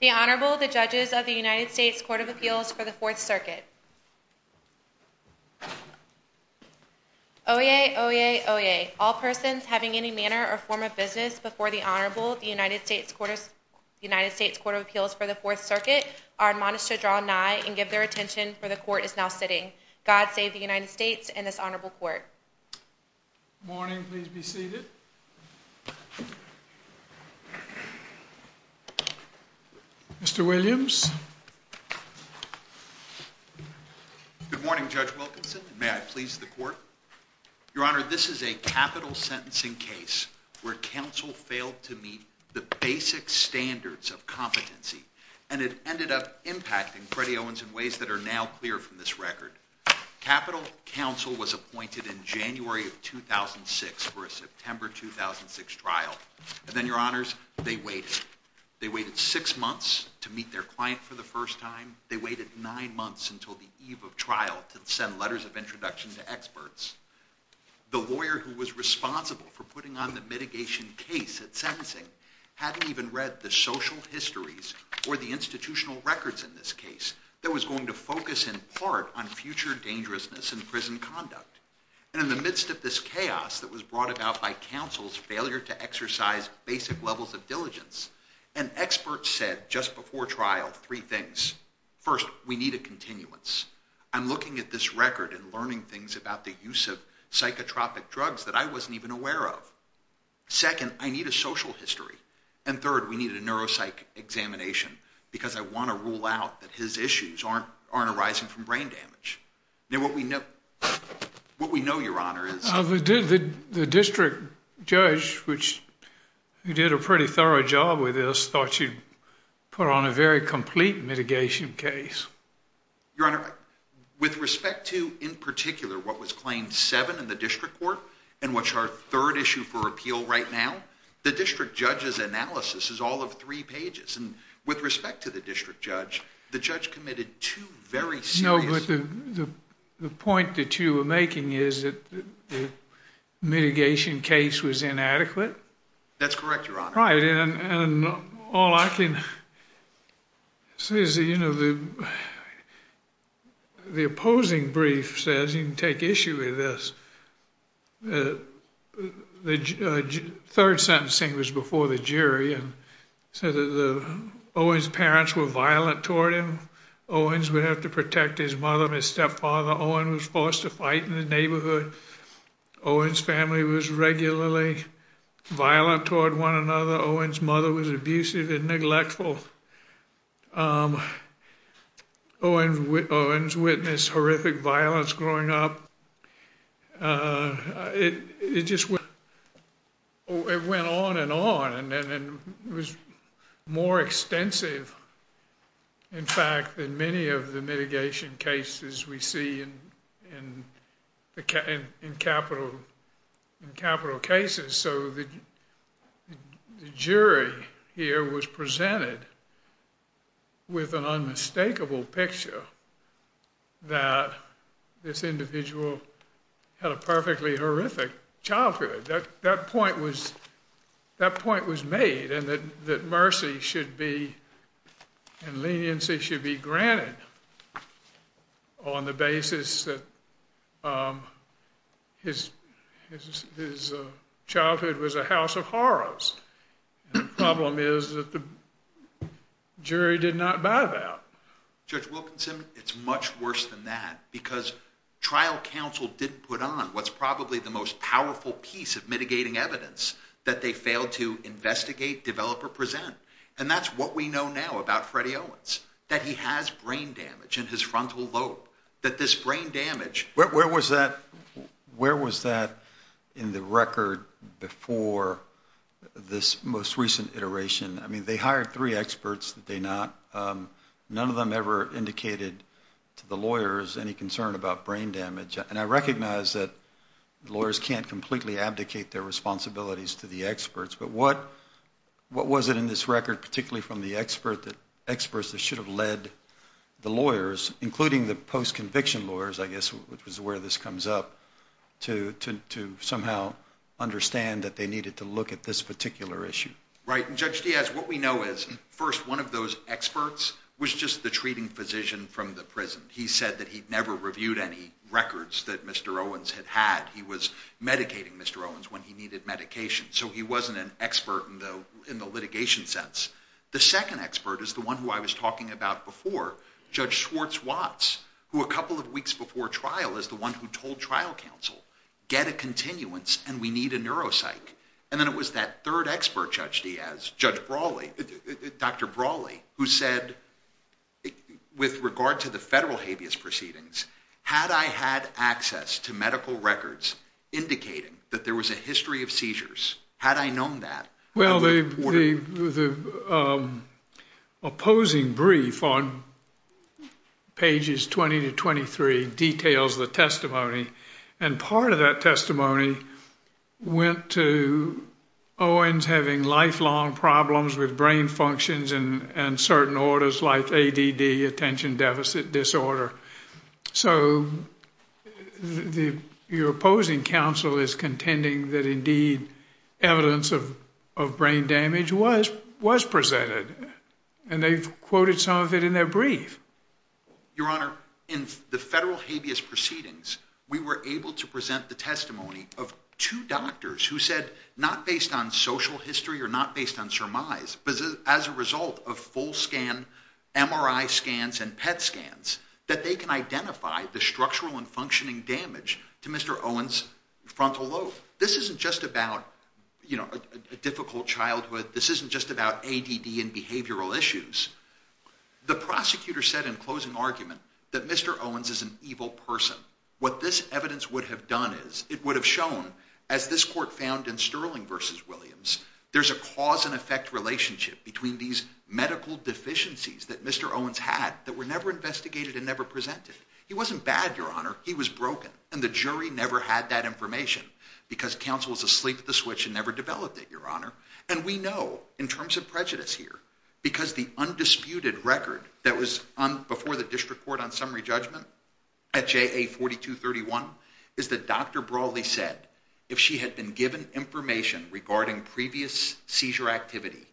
The Honorable, the Judges of the United States Court of Appeals for the Fourth Circuit. Oyez, oyez, oyez. All persons having any manner or form of business before the Honorable, the United States Court of Appeals for the Fourth Circuit, are admonished to draw nigh and give their attention, for the Court is now sitting. God save the United States and this Honorable Court. Good morning. Please be seated. Mr. Williams. Good morning, Judge Wilkinson. May I please the Court? Your Honor, this is a capital sentencing case where counsel failed to meet the basic standards of competency, and it ended up impacting Freddie Owens in ways that are now clear from this record. Capital counsel was appointed in January of 2006 for a September 2006 trial. And then, Your Honors, they waited. They waited six months to meet their client for the first time. They waited nine months until the eve of trial to send letters of introduction to experts. The lawyer who was responsible for putting on the mitigation case at sentencing hadn't even read the social histories or the institutional records in this case that was going to focus in part on future dangerousness in prison conduct. And in the midst of this chaos that was brought about by counsel's failure to exercise basic levels of diligence, an expert said just before trial three things. First, we need a continuance. I'm looking at this record and learning things about the use of psychotropic drugs that I wasn't even aware of. Second, I need a social history. And third, we need a neuropsych examination because I want to rule out that his issues aren't arising from brain damage. Now, what we know, Your Honor, is... The district judge, who did a pretty thorough job with this, thought you put on a very complete mitigation case. Your Honor, with respect to, in particular, what was claimed seven in the district court and what's our third issue for appeal right now, the district judge's analysis is all of three pages. And with respect to the district judge, the judge committed two very serious... No, but the point that you were making is that the mitigation case was inadequate. That's correct, Your Honor. Right, and all I can say is, you know, the opposing brief says you can take issue with this. The third sentencing was before the jury and said that Owen's parents were violent toward him. Owen's would have to protect his mother and his stepfather. Owen was forced to fight in the neighborhood. Owen's family was regularly violent toward one another. Owen's mother was abusive and neglectful. Owen's witnessed horrific violence growing up. It just went on and on. And it was more extensive, in fact, than many of the mitigation cases we see in capital cases. So the jury here was presented with an unmistakable picture that this individual had a perfectly horrific childhood. That point was made and that mercy and leniency should be granted on the basis that his childhood was a house of horrors. And the problem is that the jury did not buy that. Judge Wilkinson, it's much worse than that because trial counsel didn't put on what's probably the most powerful piece of mitigating evidence that they failed to investigate, develop, or present. And that's what we know now about Freddie Owens, that he has brain damage in his frontal lobe, that this brain damage. Where was that in the record before this most recent iteration? I mean, they hired three experts, did they not? None of them ever indicated to the lawyers any concern about brain damage. And I recognize that lawyers can't completely abdicate their responsibilities to the experts, but what was it in this record, particularly from the experts that should have led the lawyers, including the post-conviction lawyers, I guess, which is where this comes up, to somehow understand that they needed to look at this particular issue? Right, and Judge Diaz, what we know is, first, one of those experts was just the treating physician from the prison. He said that he'd never reviewed any records that Mr. Owens had had. He was medicating Mr. Owens when he needed medication, so he wasn't an expert in the litigation sense. The second expert is the one who I was talking about before, Judge Schwartz-Watts, who a couple of weeks before trial is the one who told trial counsel, get a continuance and we need a neuropsych. And then it was that third expert, Judge Diaz, Judge Brawley, Dr. Brawley, who said with regard to the federal habeas proceedings, had I had access to medical records indicating that there was a history of seizures, had I known that? Well, the opposing brief on pages 20 to 23 details the testimony, and part of that testimony went to Owens having lifelong problems with brain functions and certain orders like ADD, attention deficit disorder. So your opposing counsel is contending that indeed evidence of brain damage was presented, and they've quoted some of it in their brief. Your Honor, in the federal habeas proceedings, we were able to present the testimony of two doctors who said not based on social history or not based on surmise, but as a result of full scan, MRI scans and PET scans, that they can identify the structural and functioning damage to Mr. Owens' frontal lobe. This isn't just about, you know, a difficult childhood. This isn't just about ADD and behavioral issues. The prosecutor said in closing argument that Mr. Owens is an evil person. What this evidence would have done is it would have shown, as this court found in Sterling v. Williams, there's a cause and effect relationship between these medical deficiencies that Mr. Owens had that were never investigated and never presented. He wasn't bad, Your Honor. He was broken, and the jury never had that information because counsel was asleep at the switch and never developed it, Your Honor. And we know, in terms of prejudice here, because the undisputed record that was before the district court on summary judgment at JA 4231 is that Dr. Brawley said if she had been given information regarding previous seizure activity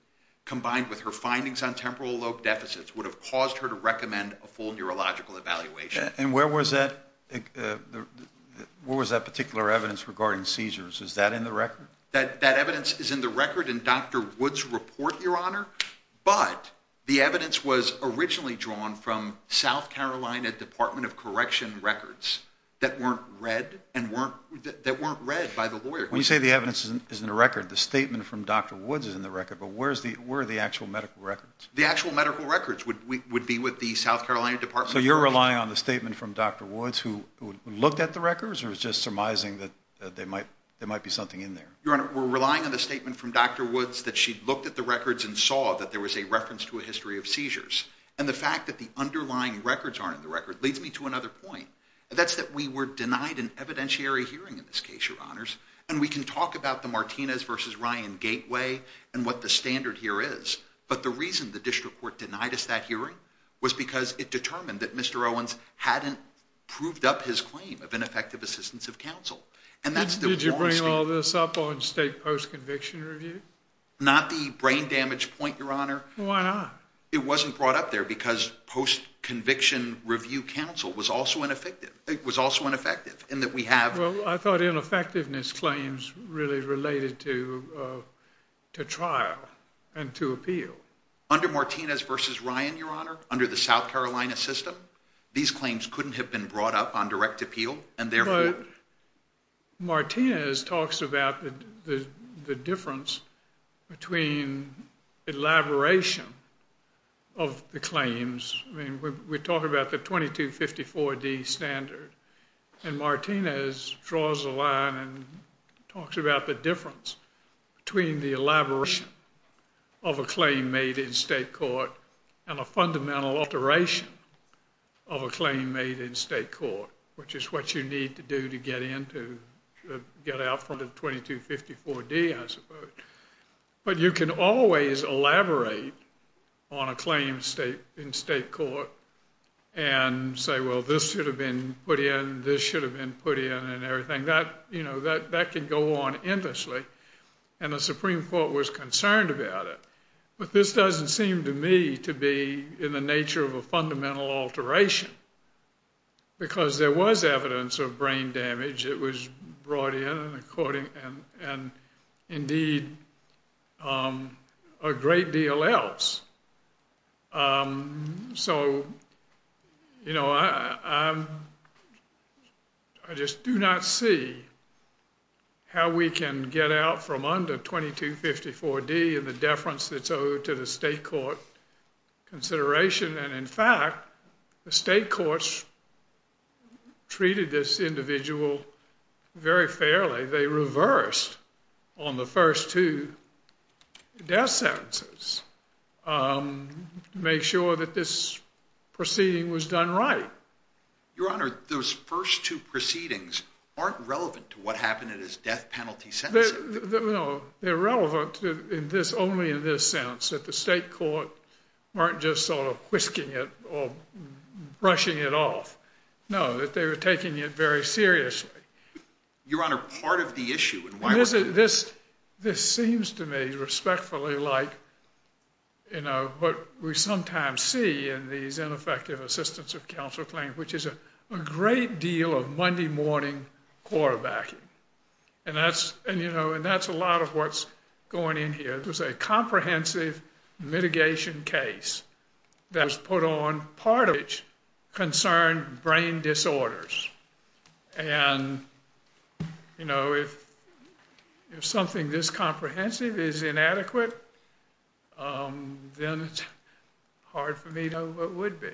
combined with her findings on temporal lobe deficits would have caused her to recommend a full neurological evaluation. And where was that particular evidence regarding seizures? Is that in the record? That evidence is in the record in Dr. Woods' report, Your Honor, but the evidence was originally drawn from South Carolina Department of Correction records that weren't read by the lawyers. When you say the evidence is in the record, the statement from Dr. Woods is in the record, but where are the actual medical records? The actual medical records would be with the South Carolina Department of Correction. So you're relying on the statement from Dr. Woods who looked at the records or it's just surmising that there might be something in there? Your Honor, we're relying on the statement from Dr. Woods that she looked at the records and saw that there was a reference to a history of seizures. And the fact that the underlying records aren't in the record leads me to another point. That's that we were denied an evidentiary hearing in this case, Your Honors, and we can talk about the Martinez v. Ryan gateway and what the standard here is, but the reason the district court denied us that hearing was because it determined that Mr. Owens hadn't proved up his claim of ineffective assistance of counsel. Did you bring all this up on state post-conviction review? Not the brain damage point, Your Honor. Why not? It wasn't brought up there because post-conviction review counsel was also ineffective. Well, I thought ineffectiveness claims really related to trial and to appeal. Under Martinez v. Ryan, Your Honor, under the South Carolina system, these claims couldn't have been brought up on direct appeal, and therefore— But Martinez talks about the difference between elaboration of the claims. I mean, we talk about the 2254D standard, and Martinez draws a line and talks about the difference between the elaboration of a claim made in state court and a fundamental alteration of a claim made in state court, which is what you need to do to get out from the 2254D, I suppose. But you can always elaborate on a claim in state court and say, well, this should have been put in, this should have been put in, and everything. That could go on endlessly, and the Supreme Court was concerned about it. But this doesn't seem to me to be in the nature of a fundamental alteration because there was evidence of brain damage that was brought in, and indeed a great deal else. So, you know, I just do not see how we can get out from under 2254D and the deference that's owed to the state court consideration. And in fact, the state courts treated this individual very fairly. They reversed on the first two death sentences to make sure that this proceeding was done right. Your Honor, those first two proceedings aren't relevant to what happened at his death penalty sentencing. No, they're relevant only in this sense, that the state court weren't just sort of whisking it or brushing it off. No, that they were taking it very seriously. Your Honor, part of the issue in why we're doing this... This seems to me respectfully like what we sometimes see in these ineffective assistance of counsel claims, which is a great deal of Monday morning quarterbacking. And that's a lot of what's going in here. It was a comprehensive mitigation case that was put on part of which concerned brain disorders. And, you know, if something this comprehensive is inadequate, then it's hard for me to know what would be.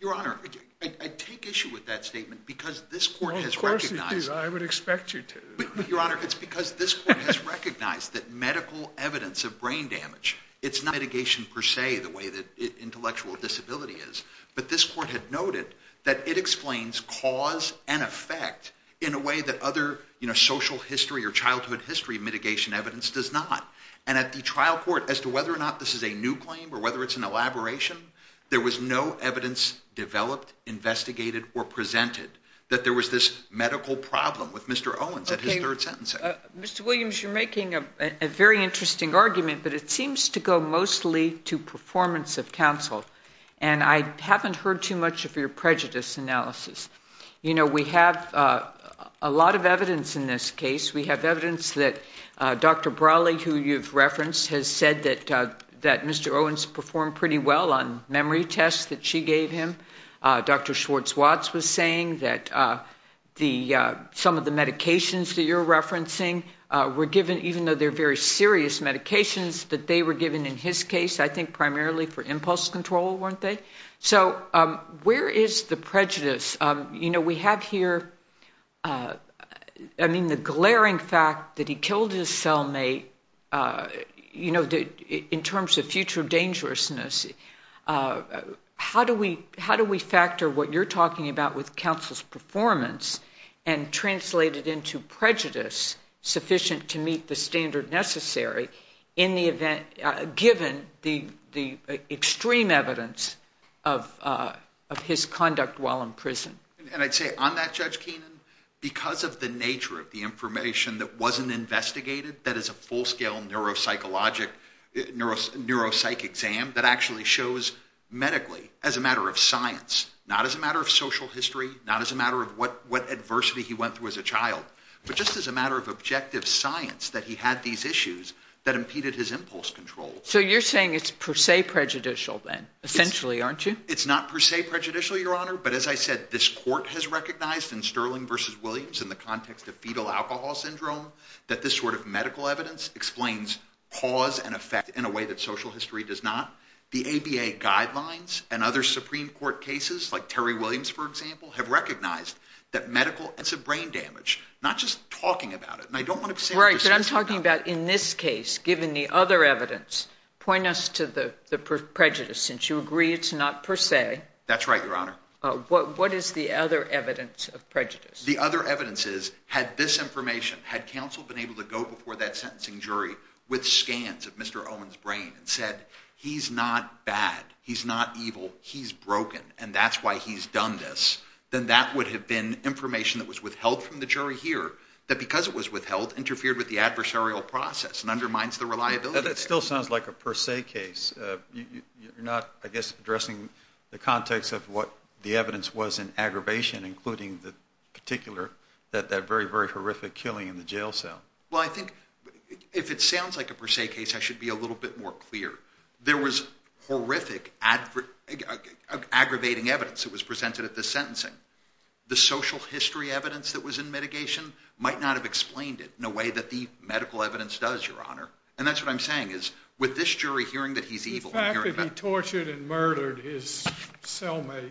Your Honor, I take issue with that statement because this court has recognized... Well, of course you do. I would expect you to. Your Honor, it's because this court has recognized that medical evidence of brain damage, it's not mitigation per se the way that intellectual disability is, but this court had noted that it explains cause and effect in a way that other social history or childhood history mitigation evidence does not. And at the trial court, as to whether or not this is a new claim or whether it's an elaboration, there was no evidence developed, investigated, or presented that there was this medical problem with Mr. Owens at his third sentencing. Mr. Williams, you're making a very interesting argument, but it seems to go mostly to performance of counsel. And I haven't heard too much of your prejudice analysis. You know, we have a lot of evidence in this case. We have evidence that Dr. Brawley, who you've referenced, has said that Mr. Owens performed pretty well on memory tests that she gave him. Dr. Schwartz-Watts was saying that some of the medications that you're referencing were given, even though they're very serious medications, that they were given in his case, I think, primarily for impulse control, weren't they? So where is the prejudice? You know, we have here, I mean, the glaring fact that he killed his cellmate, you know, in terms of future dangerousness. How do we factor what you're talking about with counsel's performance and translate it into prejudice sufficient to meet the standard necessary given the extreme evidence of his conduct while in prison? And I'd say on that, Judge Keenan, because of the nature of the information that wasn't investigated, that is a full-scale neuropsych exam that actually shows medically as a matter of science, not as a matter of social history, not as a matter of what adversity he went through as a child, but just as a matter of objective science that he had these issues that impeded his impulse control. So you're saying it's per se prejudicial then, essentially, aren't you? It's not per se prejudicial, Your Honor, but as I said, this court has recognized in Sterling v. Williams in the context of fetal alcohol syndrome that this sort of medical evidence explains cause and effect in a way that social history does not. The ABA guidelines and other Supreme Court cases, like Terry Williams, for example, have recognized that medical evidence is a brain damage, not just talking about it. Right, but I'm talking about in this case, given the other evidence, point us to the prejudice, since you agree it's not per se. That's right, Your Honor. What is the other evidence of prejudice? The other evidence is, had this information, had counsel been able to go before that sentencing jury with scans of Mr. Owen's brain and said, he's not bad, he's not evil, he's broken, and that's why he's done this, then that would have been information that was withheld from the jury here that, because it was withheld, interfered with the adversarial process and undermines the reliability. That still sounds like a per se case. You're not, I guess, addressing the context of what the evidence was in aggravation, including the particular, that very, very horrific killing in the jail cell. Well, I think if it sounds like a per se case, I should be a little bit more clear. There was horrific, aggravating evidence that was presented at this sentencing. The social history evidence that was in mitigation might not have explained it in a way that the medical evidence does, Your Honor. And that's what I'm saying, is with this jury hearing that he's evil. The fact that he tortured and murdered his cellmate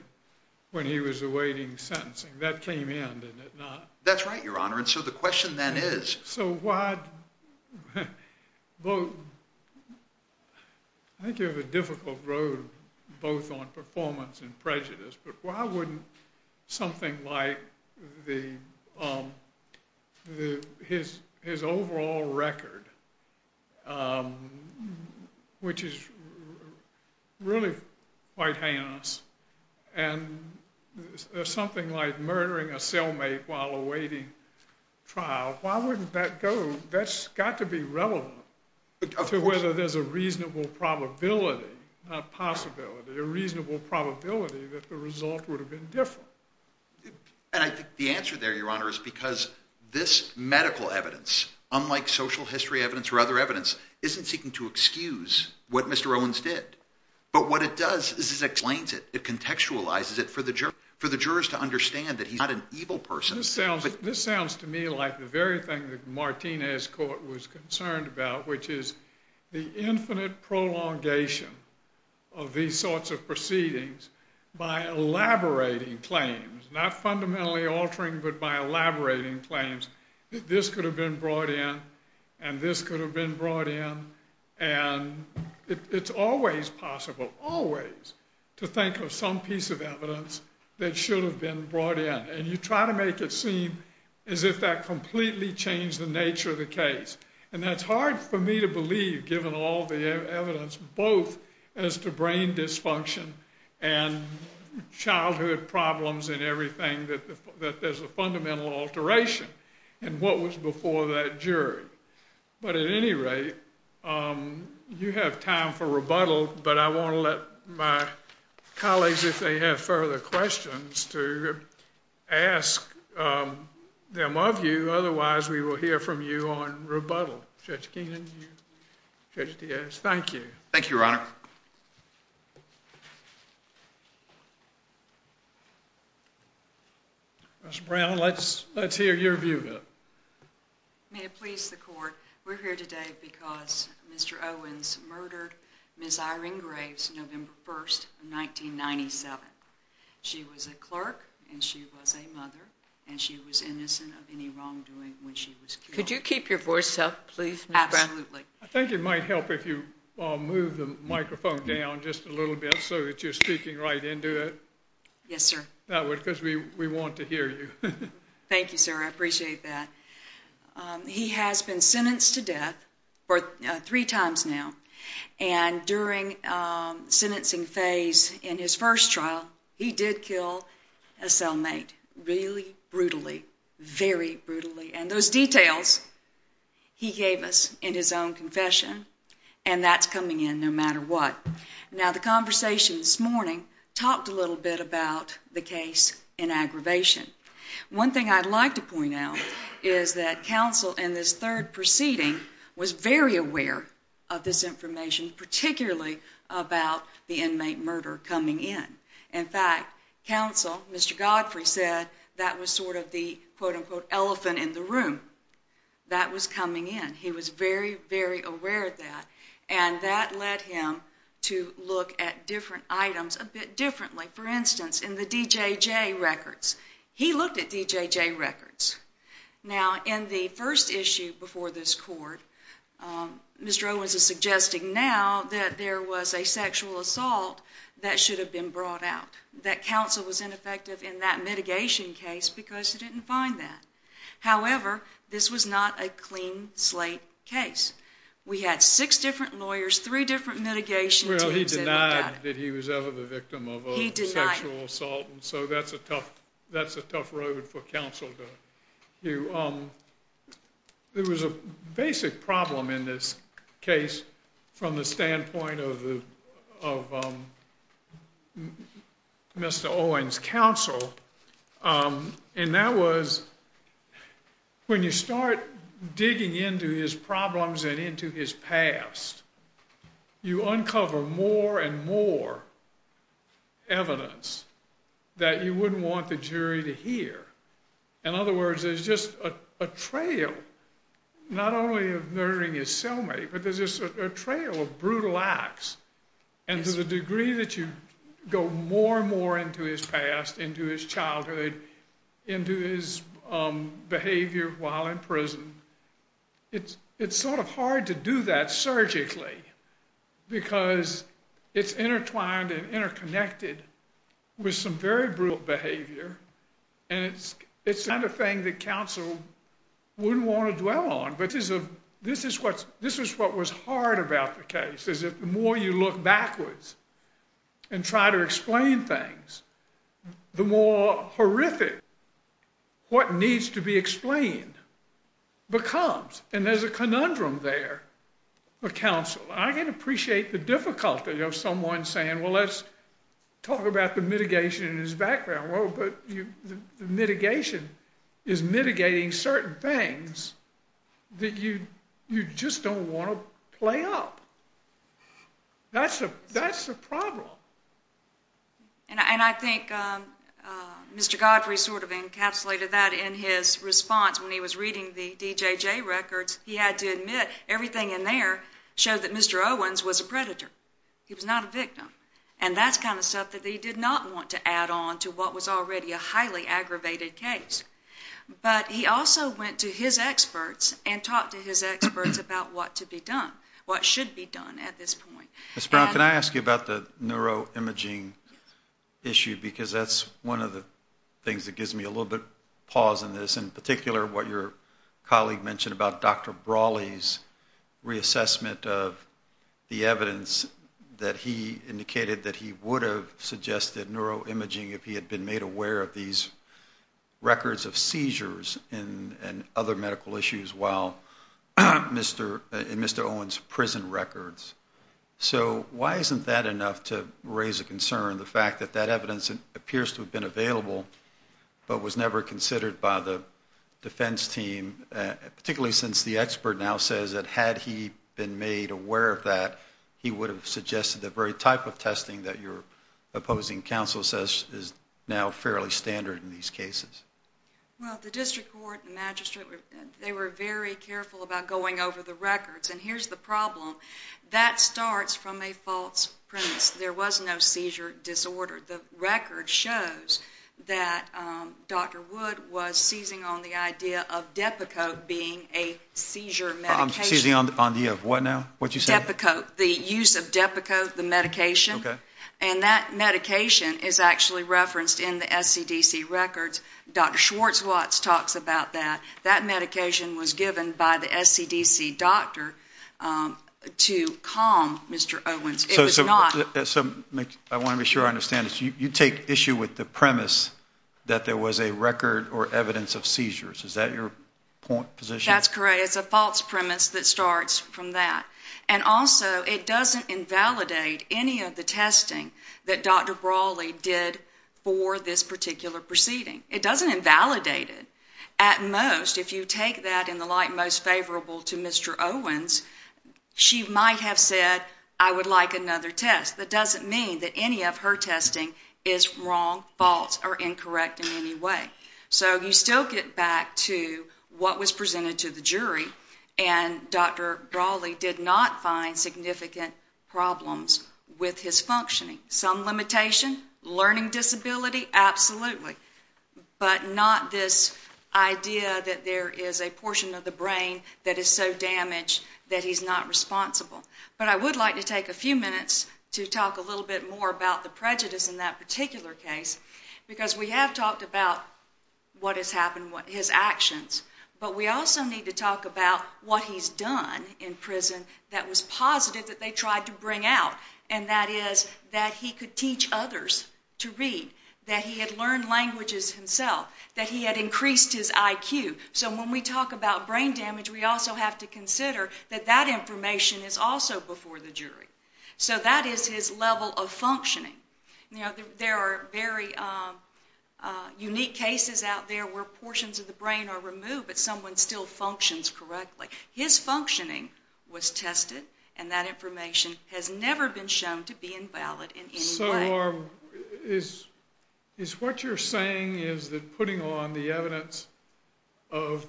when he was awaiting sentencing, that came in, did it not? That's right, Your Honor. So why, I think you have a difficult road both on performance and prejudice, but why wouldn't something like his overall record, which is really quite heinous, and something like murdering a cellmate while awaiting trial, why wouldn't that go, that's got to be relevant to whether there's a reasonable probability, not possibility, a reasonable probability that the result would have been different. And I think the answer there, Your Honor, is because this medical evidence, unlike social history evidence or other evidence, isn't seeking to excuse what Mr. Owens did. But what it does is it explains it. It contextualizes it for the jurors to understand that he's not an evil person. This sounds to me like the very thing that Martinez Court was concerned about, which is the infinite prolongation of these sorts of proceedings by elaborating claims, not fundamentally altering, but by elaborating claims, that this could have been brought in and this could have been brought in. And it's always possible, always, to think of some piece of evidence that should have been brought in. And you try to make it seem as if that completely changed the nature of the case. And that's hard for me to believe, given all the evidence, both as to brain dysfunction and childhood problems and everything, that there's a fundamental alteration in what was before that jury. But at any rate, you have time for rebuttal, but I want to let my colleagues, if they have further questions, to ask them of you. Otherwise, we will hear from you on rebuttal. Judge Keenan, Judge Diaz, thank you. Thank you, Your Honor. Judge Brown, let's hear your view. May it please the Court, we're here today because Mr. Owens murdered Ms. Irene Graves, November 1, 1997. She was a clerk and she was a mother and she was innocent of any wrongdoing when she was killed. Could you keep your voice up, please, Ms. Brown? Absolutely. I think it might help if you move the microphone down just a little bit so that you're speaking right into it. Yes, sir. That way, because we want to hear you. Thank you, sir. I appreciate that. He has been sentenced to death three times now, and during the sentencing phase in his first trial, he did kill a cellmate really brutally, very brutally. And those details he gave us in his own confession, and that's coming in no matter what. Now, the conversation this morning talked a little bit about the case in aggravation. One thing I'd like to point out is that counsel in this third proceeding was very aware of this information, particularly about the inmate murder coming in. In fact, counsel, Mr. Godfrey said that was sort of the, quote-unquote, elephant in the room. That was coming in. He was very, very aware of that. And that led him to look at different items a bit differently. For instance, in the D.J.J. records, he looked at D.J.J. records. Now, in the first issue before this court, Mr. Owens is suggesting now that there was a sexual assault that should have been brought out, that counsel was ineffective in that mitigation case because he didn't find that. However, this was not a clean slate case. We had six different lawyers, three different mitigation teams. Well, he denied that he was ever the victim of a sexual assault, and so that's a tough road for counsel to do. There was a basic problem in this case from the standpoint of Mr. Owens' counsel, and that was when you start digging into his problems and into his past, you uncover more and more evidence that you wouldn't want the jury to hear. In other words, there's just a trail not only of murdering his cellmate, but there's just a trail of brutal acts. And to the degree that you go more and more into his past, into his childhood, into his behavior while in prison, it's sort of hard to do that surgically because it's intertwined and interconnected with some very brutal behavior, and it's not a thing that counsel wouldn't want to dwell on. This is what was hard about the case, is that the more you look backwards and try to explain things, the more horrific what needs to be explained becomes, and there's a conundrum there for counsel. I can appreciate the difficulty of someone saying, well, let's talk about the mitigation in his background. Well, but the mitigation is mitigating certain things that you just don't want to play up. That's the problem. And I think Mr. Godfrey sort of encapsulated that in his response when he was reading the DJJ records. He had to admit everything in there showed that Mr. Owens was a predator. He was not a victim. And that's kind of stuff that he did not want to add on to what was already a highly aggravated case. But he also went to his experts and talked to his experts about what to be done, what should be done at this point. Ms. Brown, can I ask you about the neuroimaging issue because that's one of the things that gives me a little bit of pause in this, in particular what your colleague mentioned about Dr. Brawley's reassessment of the evidence that he indicated that he would have suggested neuroimaging if he had been made aware of these records of seizures and other medical issues in Mr. Owens' prison records. So why isn't that enough to raise a concern, the fact that that evidence appears to have been available but was never considered by the defense team, particularly since the expert now says that had he been made aware of that, he would have suggested the very type of testing that your opposing counsel says is now fairly standard in these cases? Well, the district court and the magistrate, they were very careful about going over the records. And here's the problem. That starts from a false premise. There was no seizure disorder. The record shows that Dr. Wood was seizing on the idea of Depakote being a seizure medication. Seizing on the idea of what now, what you said? Depakote, the use of Depakote, the medication. Okay. And that medication is actually referenced in the SCDC records. Dr. Schwartzwatz talks about that. That medication was given by the SCDC doctor to calm Mr. Owens. I want to be sure I understand this. You take issue with the premise that there was a record or evidence of seizures. Is that your position? That's correct. It's a false premise that starts from that. And also, it doesn't invalidate any of the testing that Dr. Brawley did for this particular proceeding. It doesn't invalidate it. At most, if you take that in the light most favorable to Mr. Owens, she might have said, I would like another test. That doesn't mean that any of her testing is wrong, false, or incorrect in any way. So you still get back to what was presented to the jury, and Dr. Brawley did not find significant problems with his functioning. Some limitation, learning disability, absolutely. But not this idea that there is a portion of the brain that is so damaged that he's not responsible. But I would like to take a few minutes to talk a little bit more about the prejudice in that particular case, because we have talked about what has happened, his actions, but we also need to talk about what he's done in prison that was positive that they tried to bring out, and that is that he could teach others to read, that he had learned languages himself, that he had increased his IQ. So when we talk about brain damage, we also have to consider that that information is also before the jury. So that is his level of functioning. There are very unique cases out there where portions of the brain are removed, but someone still functions correctly. His functioning was tested, and that information has never been shown to be invalid in any way. So is what you're saying is that putting on the evidence of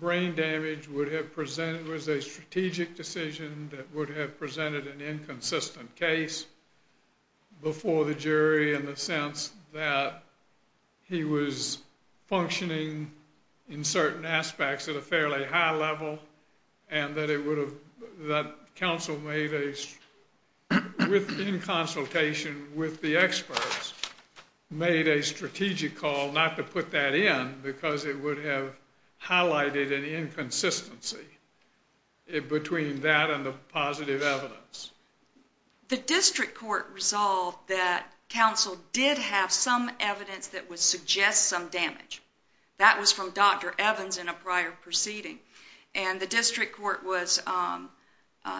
brain damage would have presented, was a strategic decision that would have presented an inconsistent case before the jury in the sense that he was functioning in certain aspects at a fairly high level, and that it would have, that counsel made a, within consultation with the experts, made a strategic call not to put that in because it would have highlighted an inconsistency between that and the positive evidence. The district court resolved that counsel did have some evidence that would suggest some damage. That was from Dr. Evans in a prior proceeding. And the district court was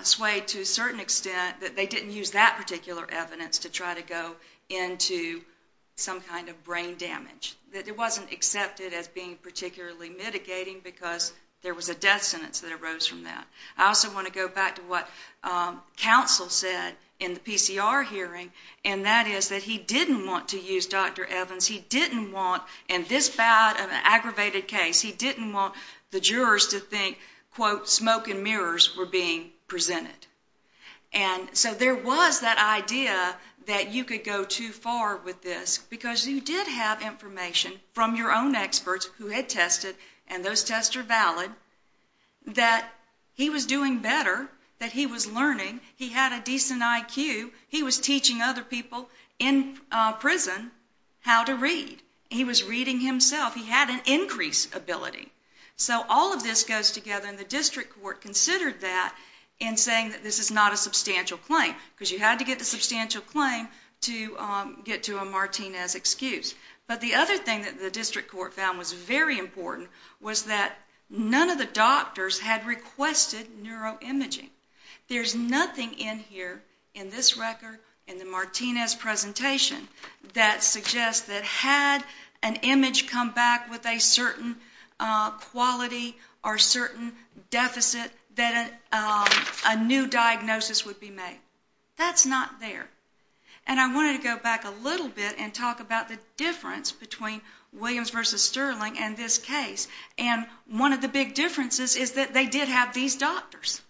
swayed to a certain extent that they didn't use that particular evidence to try to go into some kind of brain damage. It wasn't accepted as being particularly mitigating because there was a death sentence that arose from that. I also want to go back to what counsel said in the PCR hearing, and that is that he didn't want to use Dr. Evans. He didn't want, in this bad of an aggravated case, he didn't want the jurors to think, quote, smoke and mirrors were being presented. And so there was that idea that you could go too far with this because you did have information from your own experts who had tested, and those tests are valid, that he was doing better, that he was learning, he had a decent IQ, he was teaching other people in prison how to read. He was reading himself. He had an increased ability. So all of this goes together, and the district court considered that in saying that this is not a substantial claim because you had to get the substantial claim to get to a Martinez excuse. But the other thing that the district court found was very important was that none of the doctors had requested neuroimaging. There's nothing in here, in this record, in the Martinez presentation, that suggests that had an image come back with a certain quality or certain deficit that a new diagnosis would be made. That's not there. And I wanted to go back a little bit and talk about the difference between Williams v. Sterling and this case. And one of the big differences is that they did have these doctors.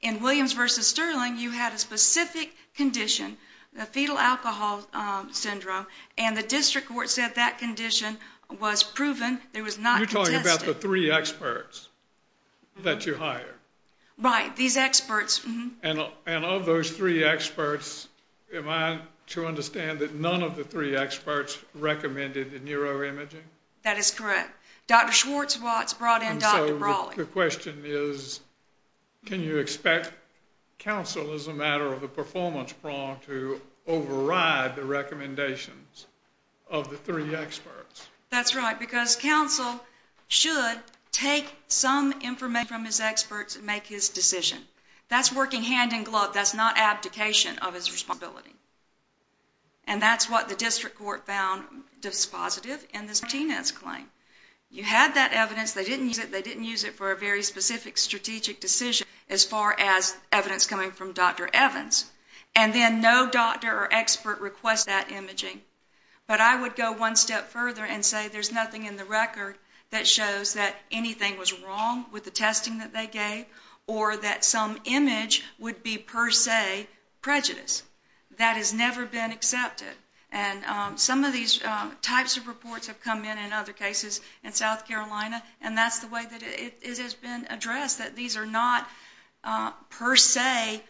In Williams v. Sterling, you had a specific condition, the fetal alcohol syndrome, and the district court said that condition was proven. You're talking about the three experts that you hired. Right, these experts. And of those three experts, am I to understand that none of the three experts recommended neuroimaging? Dr. Schwartz brought in Dr. Brawley. The question is can you expect counsel, as a matter of the performance prong, to override the recommendations of the three experts? That's right, because counsel should take some information from his experts and make his decision. That's working hand in glove. That's not abdication of his responsibility. And that's what the district court found dispositive in this Martinez claim. You had that evidence. They didn't use it. They didn't use it for a very specific strategic decision as far as evidence coming from Dr. Evans. And then no doctor or expert requests that imaging. But I would go one step further and say there's nothing in the record that shows that anything was wrong with the testing that they gave or that some image would be per se prejudice. That has never been accepted. And some of these types of reports have come in in other cases in South Carolina and that's the way that it has been addressed, that these are not per se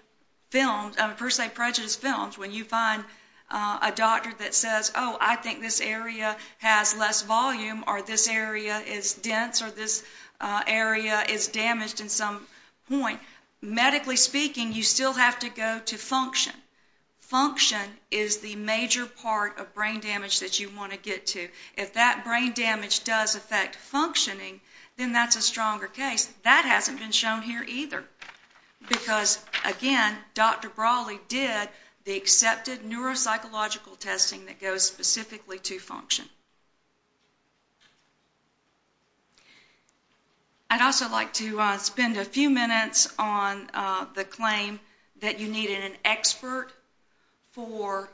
films, per se prejudice films, when you find a doctor that says, oh, I think this area has less volume or this area is dense or this area is damaged in some point. Medically speaking, you still have to go to function. Function is the major part of brain damage that you want to get to. If that brain damage does affect functioning, then that's a stronger case. That hasn't been shown here either because, again, Dr. Brawley did the accepted neuropsychological testing that goes specifically to function. I'd also like to spend a few minutes on the claim that you needed an expert for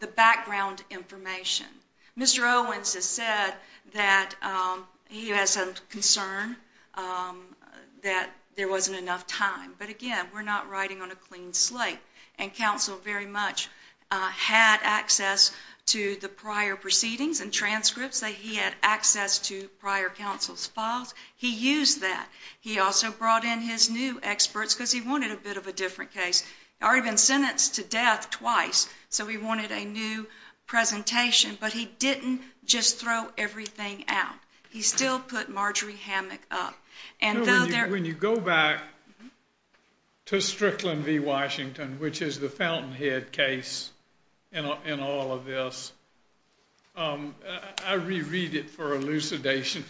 the background information. Mr. Owens has said that he has some concern that there wasn't enough time. But, again, we're not writing on a clean slate. And counsel very much had access to the prior proceedings and transcripts that he had access to prior counsel's files. He used that. He also brought in his new experts because he wanted a bit of a different case. He had already been sentenced to death twice, so he wanted a new presentation. But he didn't just throw everything out. He still put Marjorie Hammack up. When you go back to Strickland v. Washington, which is the Fountainhead case in all of this, I reread it for elucidation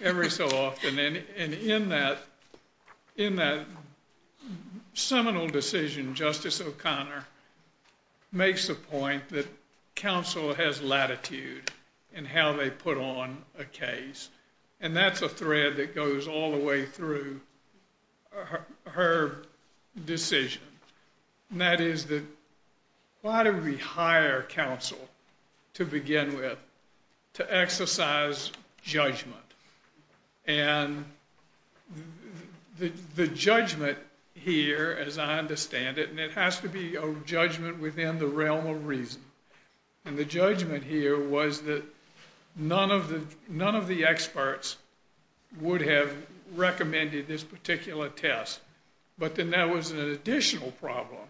every so often. And in that seminal decision, Justice O'Connor makes the point that counsel has latitude in how they put on a case. And that's a thread that goes all the way through her decision, and that is that why do we hire counsel to begin with to exercise judgment? And the judgment here, as I understand it, and it has to be a judgment within the realm of reason, and the judgment here was that none of the experts would have recommended this particular test. But then there was an additional problem,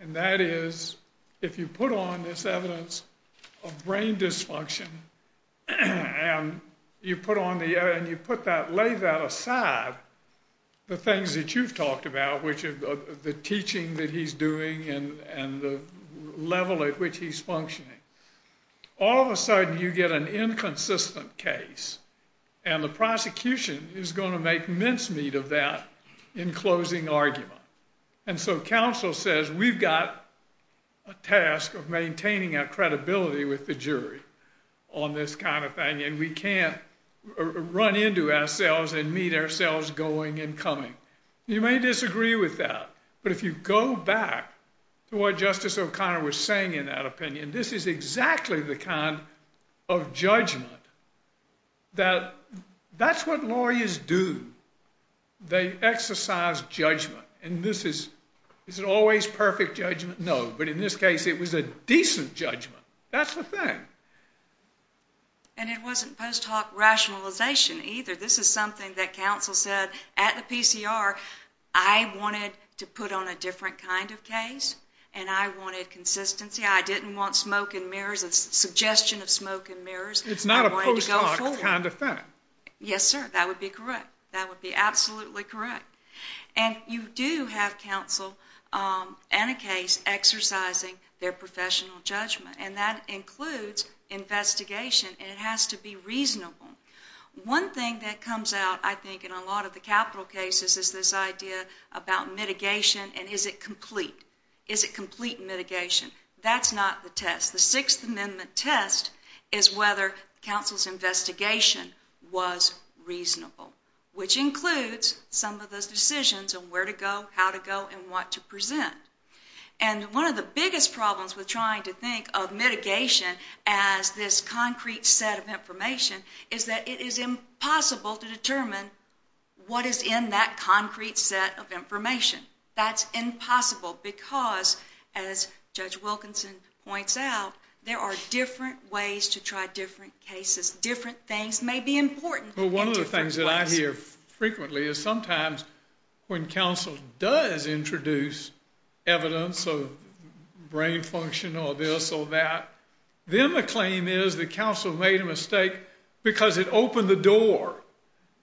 and that is if you put on this evidence of brain dysfunction and you lay that aside, the things that you've talked about, the teaching that he's doing and the level at which he's functioning, all of a sudden you get an inconsistent case, and the prosecution is going to make mincemeat of that in closing argument. And so counsel says we've got a task of maintaining our credibility with the jury on this kind of thing, and we can't run into ourselves and meet ourselves going and coming. You may disagree with that, but if you go back to what Justice O'Connor was saying in that opinion, this is exactly the kind of judgment that that's what lawyers do. They exercise judgment, and this is always perfect judgment? No, but in this case it was a decent judgment. That's the thing. And it wasn't post hoc rationalization either. This is something that counsel said at the PCR. I wanted to put on a different kind of case, and I wanted consistency. I didn't want smoke and mirrors, a suggestion of smoke and mirrors. It's not a post hoc kind of thing. Yes, sir, that would be correct. That would be absolutely correct. And you do have counsel in a case exercising their professional judgment, and that includes investigation, and it has to be reasonable. One thing that comes out, I think, in a lot of the capital cases is this idea about mitigation, and is it complete? Is it complete mitigation? That's not the test. The test, the Sixth Amendment test, is whether counsel's investigation was reasonable, which includes some of those decisions on where to go, how to go, and what to present. And one of the biggest problems with trying to think of mitigation as this concrete set of information is that it is impossible to determine what is in that concrete set of information. That's impossible because, as Judge Wilkinson points out, there are different ways to try different cases. Different things may be important in different ways. Well, one of the things that I hear frequently is sometimes when counsel does introduce evidence of brain function or this or that, then the claim is that counsel made a mistake because it opened the door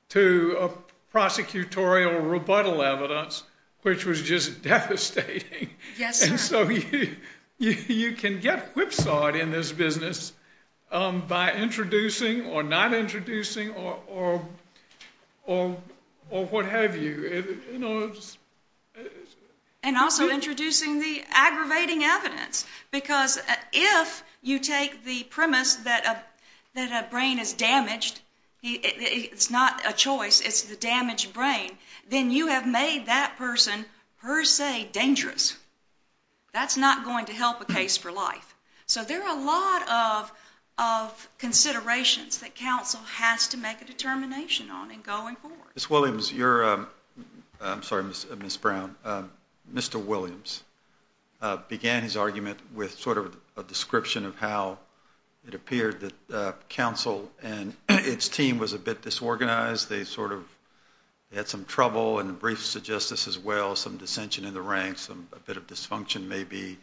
to prosecutorial rebuttal evidence which was just devastating. Yes, sir. And so you can get whipsawed in this business by introducing or not introducing or what have you. And also introducing the aggravating evidence because if you take the premise that a brain is damaged, it's not a choice, it's the damaged brain, then you have made that person per se dangerous. That's not going to help a case for life. So there are a lot of considerations that counsel has to make a determination on in going forward. Ms. Williams, you're a... I'm sorry, Ms. Brown. Mr. Williams began his argument with sort of a description of how it appeared that counsel and its team was a bit disorganized. They sort of had some trouble in the briefs of justice as well, some dissension in the ranks, a bit of dysfunction maybe.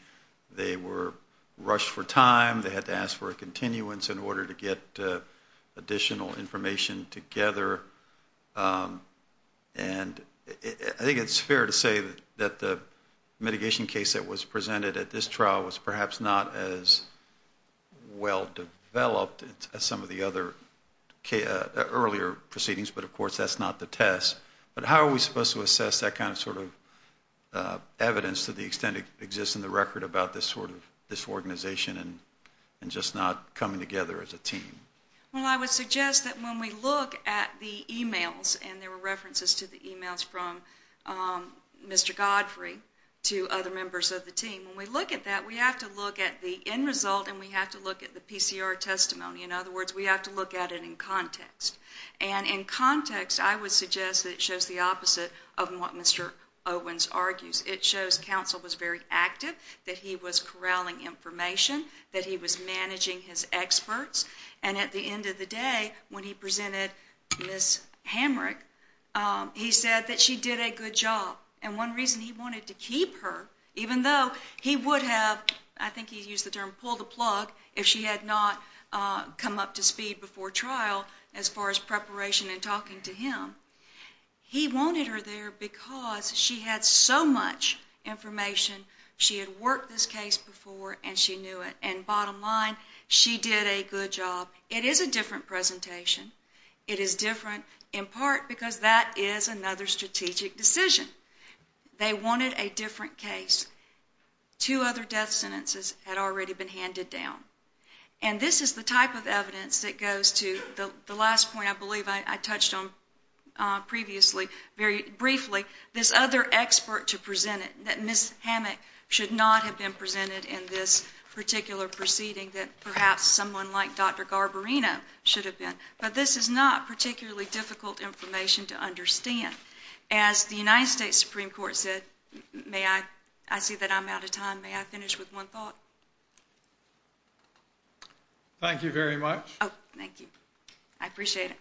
They were rushed for time. They had to ask for a continuance in order to get additional information together. And I think it's fair to say that the mitigation case that was presented at this trial was perhaps not as well-developed as some of the other earlier proceedings, but of course that's not the test. But how are we supposed to assess that kind of sort of evidence to the extent it exists in the record about this sort of disorganization and just not coming together as a team? Well, I would suggest that when we look at the e-mails, and there were references to the e-mails from Mr. Godfrey to other members of the team, when we look at that we have to look at the end result and we have to look at the PCR testimony. In other words, we have to look at it in context. And in context I would suggest that it shows the opposite of what Mr. Owens argues. It shows counsel was very active, that he was corralling information, that he was managing his experts, and at the end of the day when he presented Ms. Hamrick he said that she did a good job. And one reason he wanted to keep her, even though he would have, I think he used the term, pulled the plug, if she had not come up to speed before trial as far as preparation and talking to him, he wanted her there because she had so much information. She had worked this case before and she knew it. And bottom line, she did a good job. It is a different presentation. It is different in part because that is another strategic decision. They wanted a different case. Two other death sentences had already been handed down. And this is the type of evidence that goes to the last point, I believe I touched on previously, very briefly, this other expert to present it, that Ms. Hamrick should not have been presented in this particular proceeding, that perhaps someone like Dr. Garbarino should have been. But this is not particularly difficult information to understand. As the United States Supreme Court said, I see that I'm out of time. May I finish with one thought? Thank you very much. Thank you. I appreciate it.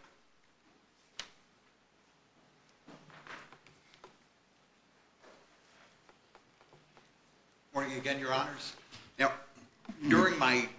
Good morning again, Your Honors. During my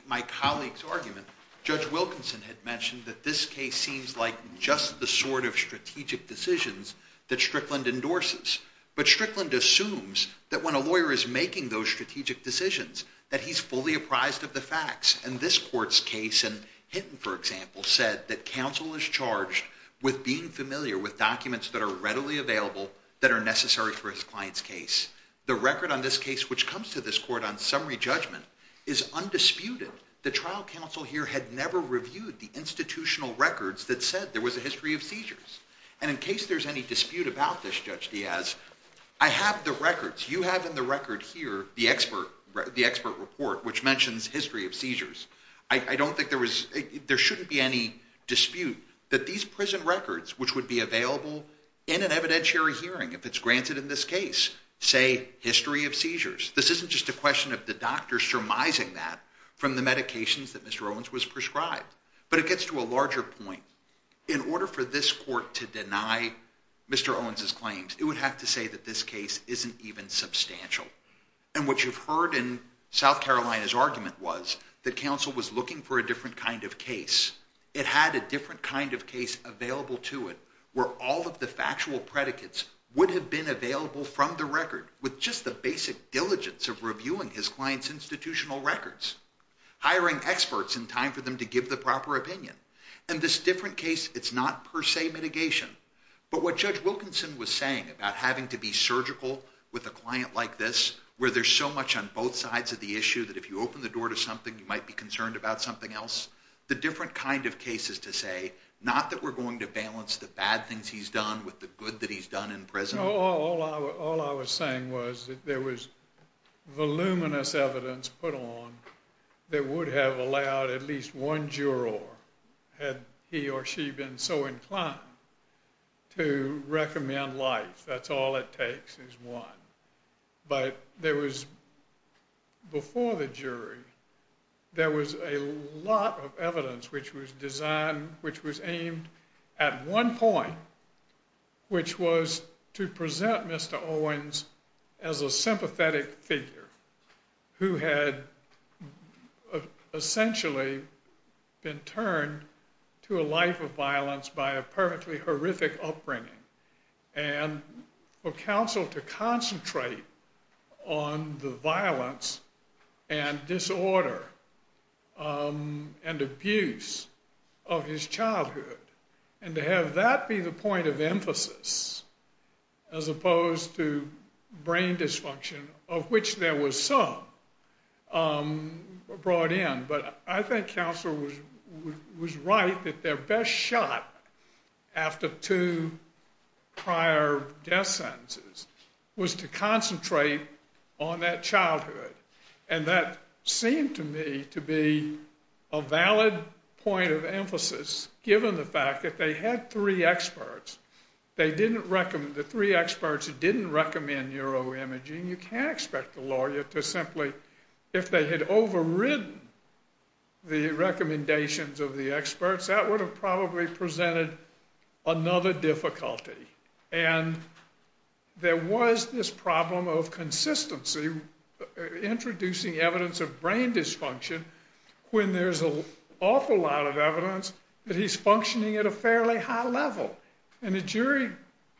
colleague's argument, Judge Wilkinson had mentioned that this case seems like just the sort of strategic decisions that Strickland endorses. But Strickland assumes that when a lawyer is making those strategic decisions, that he's fully apprised of the facts. And this court's case in Hinton, for example, said that counsel is charged with being familiar with documents that are readily available that are necessary for his client's case. The record on this case, which comes to this court on summary judgment, is undisputed. The trial counsel here had never reviewed the institutional records that said there was a history of seizures. And in case there's any dispute about this, Judge Diaz, I have the records. You have in the record here the expert report, which mentions history of seizures. I don't think there was... there shouldn't be any dispute that these prison records, which would be available in an evidentiary hearing if it's granted in this case, say history of seizures. This isn't just a question of the doctor surmising that from the medications that Mr. Owens was prescribed. But it gets to a larger point. In order for this court to deny Mr. Owens' claims, it would have to say that this case isn't even substantial. And what you've heard in South Carolina's argument was that counsel was looking for a different kind of case. It had a different kind of case available to it where all of the factual predicates would have been available from the record with just the basic diligence of reviewing his client's institutional records, hiring experts in time for them to give the proper opinion. In this different case, it's not per se mitigation. But what Judge Wilkinson was saying about having to be surgical with a client like this, where there's so much on both sides of the issue that if you open the door to something, you might be concerned about something else, the different kind of case is to say, not that we're going to balance the bad things he's done with the good that he's done in prison. All I was saying was that there was voluminous evidence put on that would have allowed at least one juror, had he or she been so inclined, to recommend life. That's all it takes is one. But there was, before the jury, there was a lot of evidence which was designed, which was aimed at one point, which was to present Mr. Owens as a sympathetic figure who had essentially been turned to a life of violence by a perfectly horrific upbringing, and for counsel to concentrate on the violence and disorder and abuse of his childhood, as opposed to brain dysfunction, of which there was some brought in. But I think counsel was right that their best shot after two prior death sentences was to concentrate on that childhood. And that seemed to me to be a valid point of emphasis, given the fact that they had three experts. They didn't recommend... The three experts didn't recommend neuroimaging. You can't expect the lawyer to simply... If they had overridden the recommendations of the experts, that would have probably presented another difficulty. And there was this problem of consistency, introducing evidence of brain dysfunction, when there's an awful lot of evidence that he's functioning at a fairly high level. And the jury...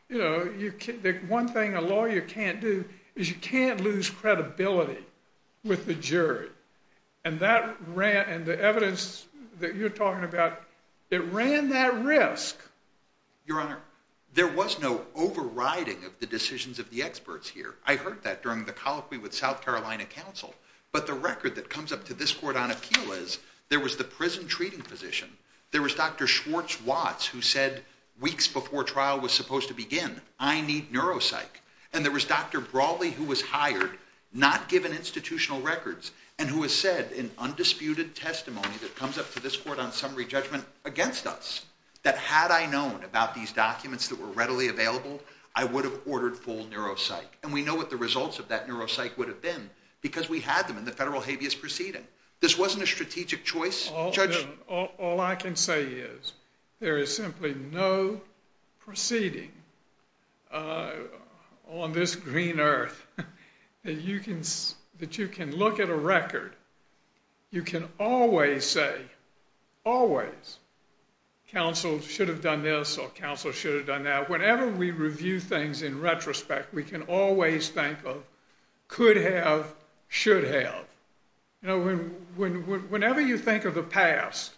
You know, the one thing a lawyer can't do is you can't lose credibility with the jury. And the evidence that you're talking about, it ran that risk. Your Honor, there was no overriding of the decisions of the experts here. I heard that during the colloquy with South Carolina counsel. But the record that comes up to this court on appeal is there was the prison treating physician, there was Dr. Schwartz-Watts, who said weeks before trial was supposed to begin, I need neuropsych. And there was Dr. Brawley, who was hired, not given institutional records, and who has said in undisputed testimony that comes up to this court on summary judgment against us, that had I known about these documents that were readily available, I would have ordered full neuropsych. And we know what the results of that neuropsych would have been because we had them in the federal habeas proceeding. This wasn't a strategic choice, Judge... All I can say is, there is simply no proceeding on this green earth that you can look at a record, you can always say, always, counsel should have done this or counsel should have done that. Whenever we review things in retrospect, we can always think of could have, should have. Whenever you think of the past,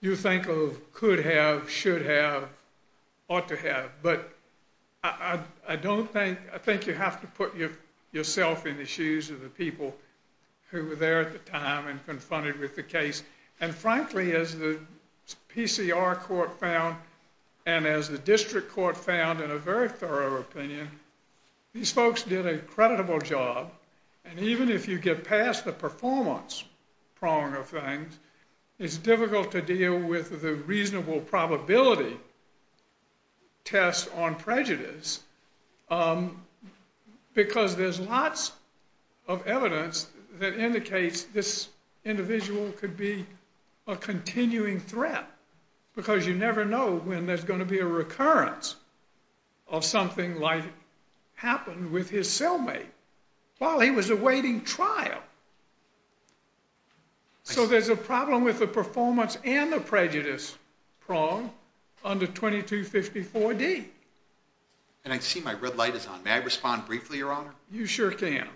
you think of could have, should have, ought to have. But I don't think... I think you have to put yourself in the shoes of the people who were there at the time and confronted with the case. And frankly, as the PCR court found and as the district court found in a very thorough opinion, these folks did an incredible job. And even if you get past the performance prong of things, it's difficult to deal with the reasonable probability test on prejudice because there's lots of evidence that indicates this individual could be a continuing threat because you never know when there's going to be a recurrence of something like happened with his cellmate while he was awaiting trial. So there's a problem with the performance and the prejudice prong under 2254D. And I see my red light is on. May I respond briefly, Your Honor? You sure can.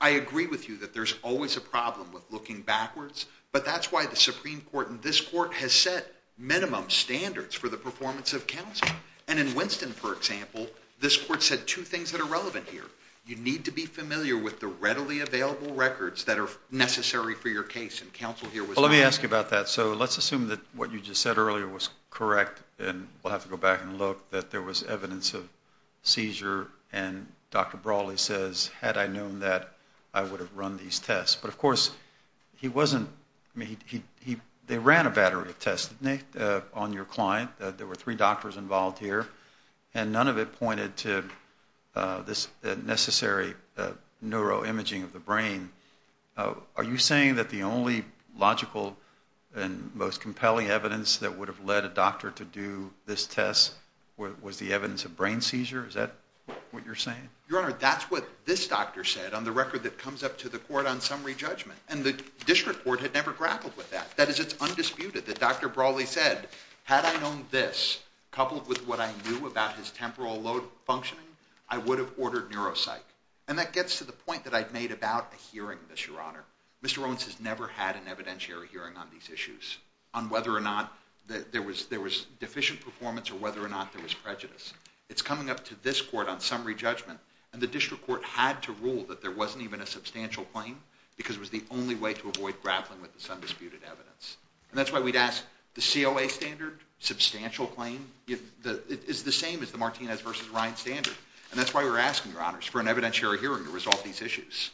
I agree with you that there's always a problem with looking backwards, but that's why the Supreme Court and this court has set minimum standards for the performance of counsel. And in Winston, for example, this court said two things that are relevant here. You need to be familiar with the readily available records that are necessary for your case, and counsel here was not. Well, let me ask you about that. So let's assume that what you just said earlier was correct and we'll have to go back and look, that there was evidence of seizure, and Dr. Brawley says, had I known that, I would have run these tests. But, of course, he wasn't... They ran a battery of tests, didn't they, on your client? There were three doctors involved here, and none of it pointed to this necessary neuroimaging of the brain. Are you saying that the only logical and most compelling evidence that would have led a doctor to do this test was the evidence of brain seizure? Is that what you're saying? Your Honor, that's what this doctor said. On the record that comes up to the court on summary judgment. And the district court had never grappled with that. That is, it's undisputed that Dr. Brawley said, had I known this, coupled with what I knew about his temporal load functioning, I would have ordered neuropsych. And that gets to the point that I've made about a hearing, Mr. Owens has never had an evidentiary hearing on these issues, on whether or not there was deficient performance or whether or not there was prejudice. It's coming up to this court on summary judgment, and the district court had to rule that there wasn't even a substantial claim because it was the only way to avoid grappling with this undisputed evidence. And that's why we'd ask the COA standard, substantial claim, is the same as the Martinez v. Ryan standard. And that's why we're asking, Your Honors, for an evidentiary hearing to resolve these issues.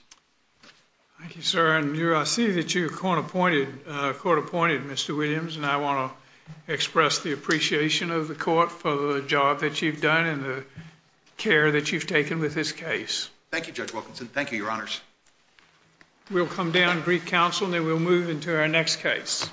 Thank you, sir. And I see that you're court-appointed, Mr. Williams, and I want to express the appreciation of the court for the job that you've done and the care that you've taken with this case. Thank you, Judge Wilkinson. Thank you, Your Honors. We'll come down, brief counsel, and then we'll move into our next case.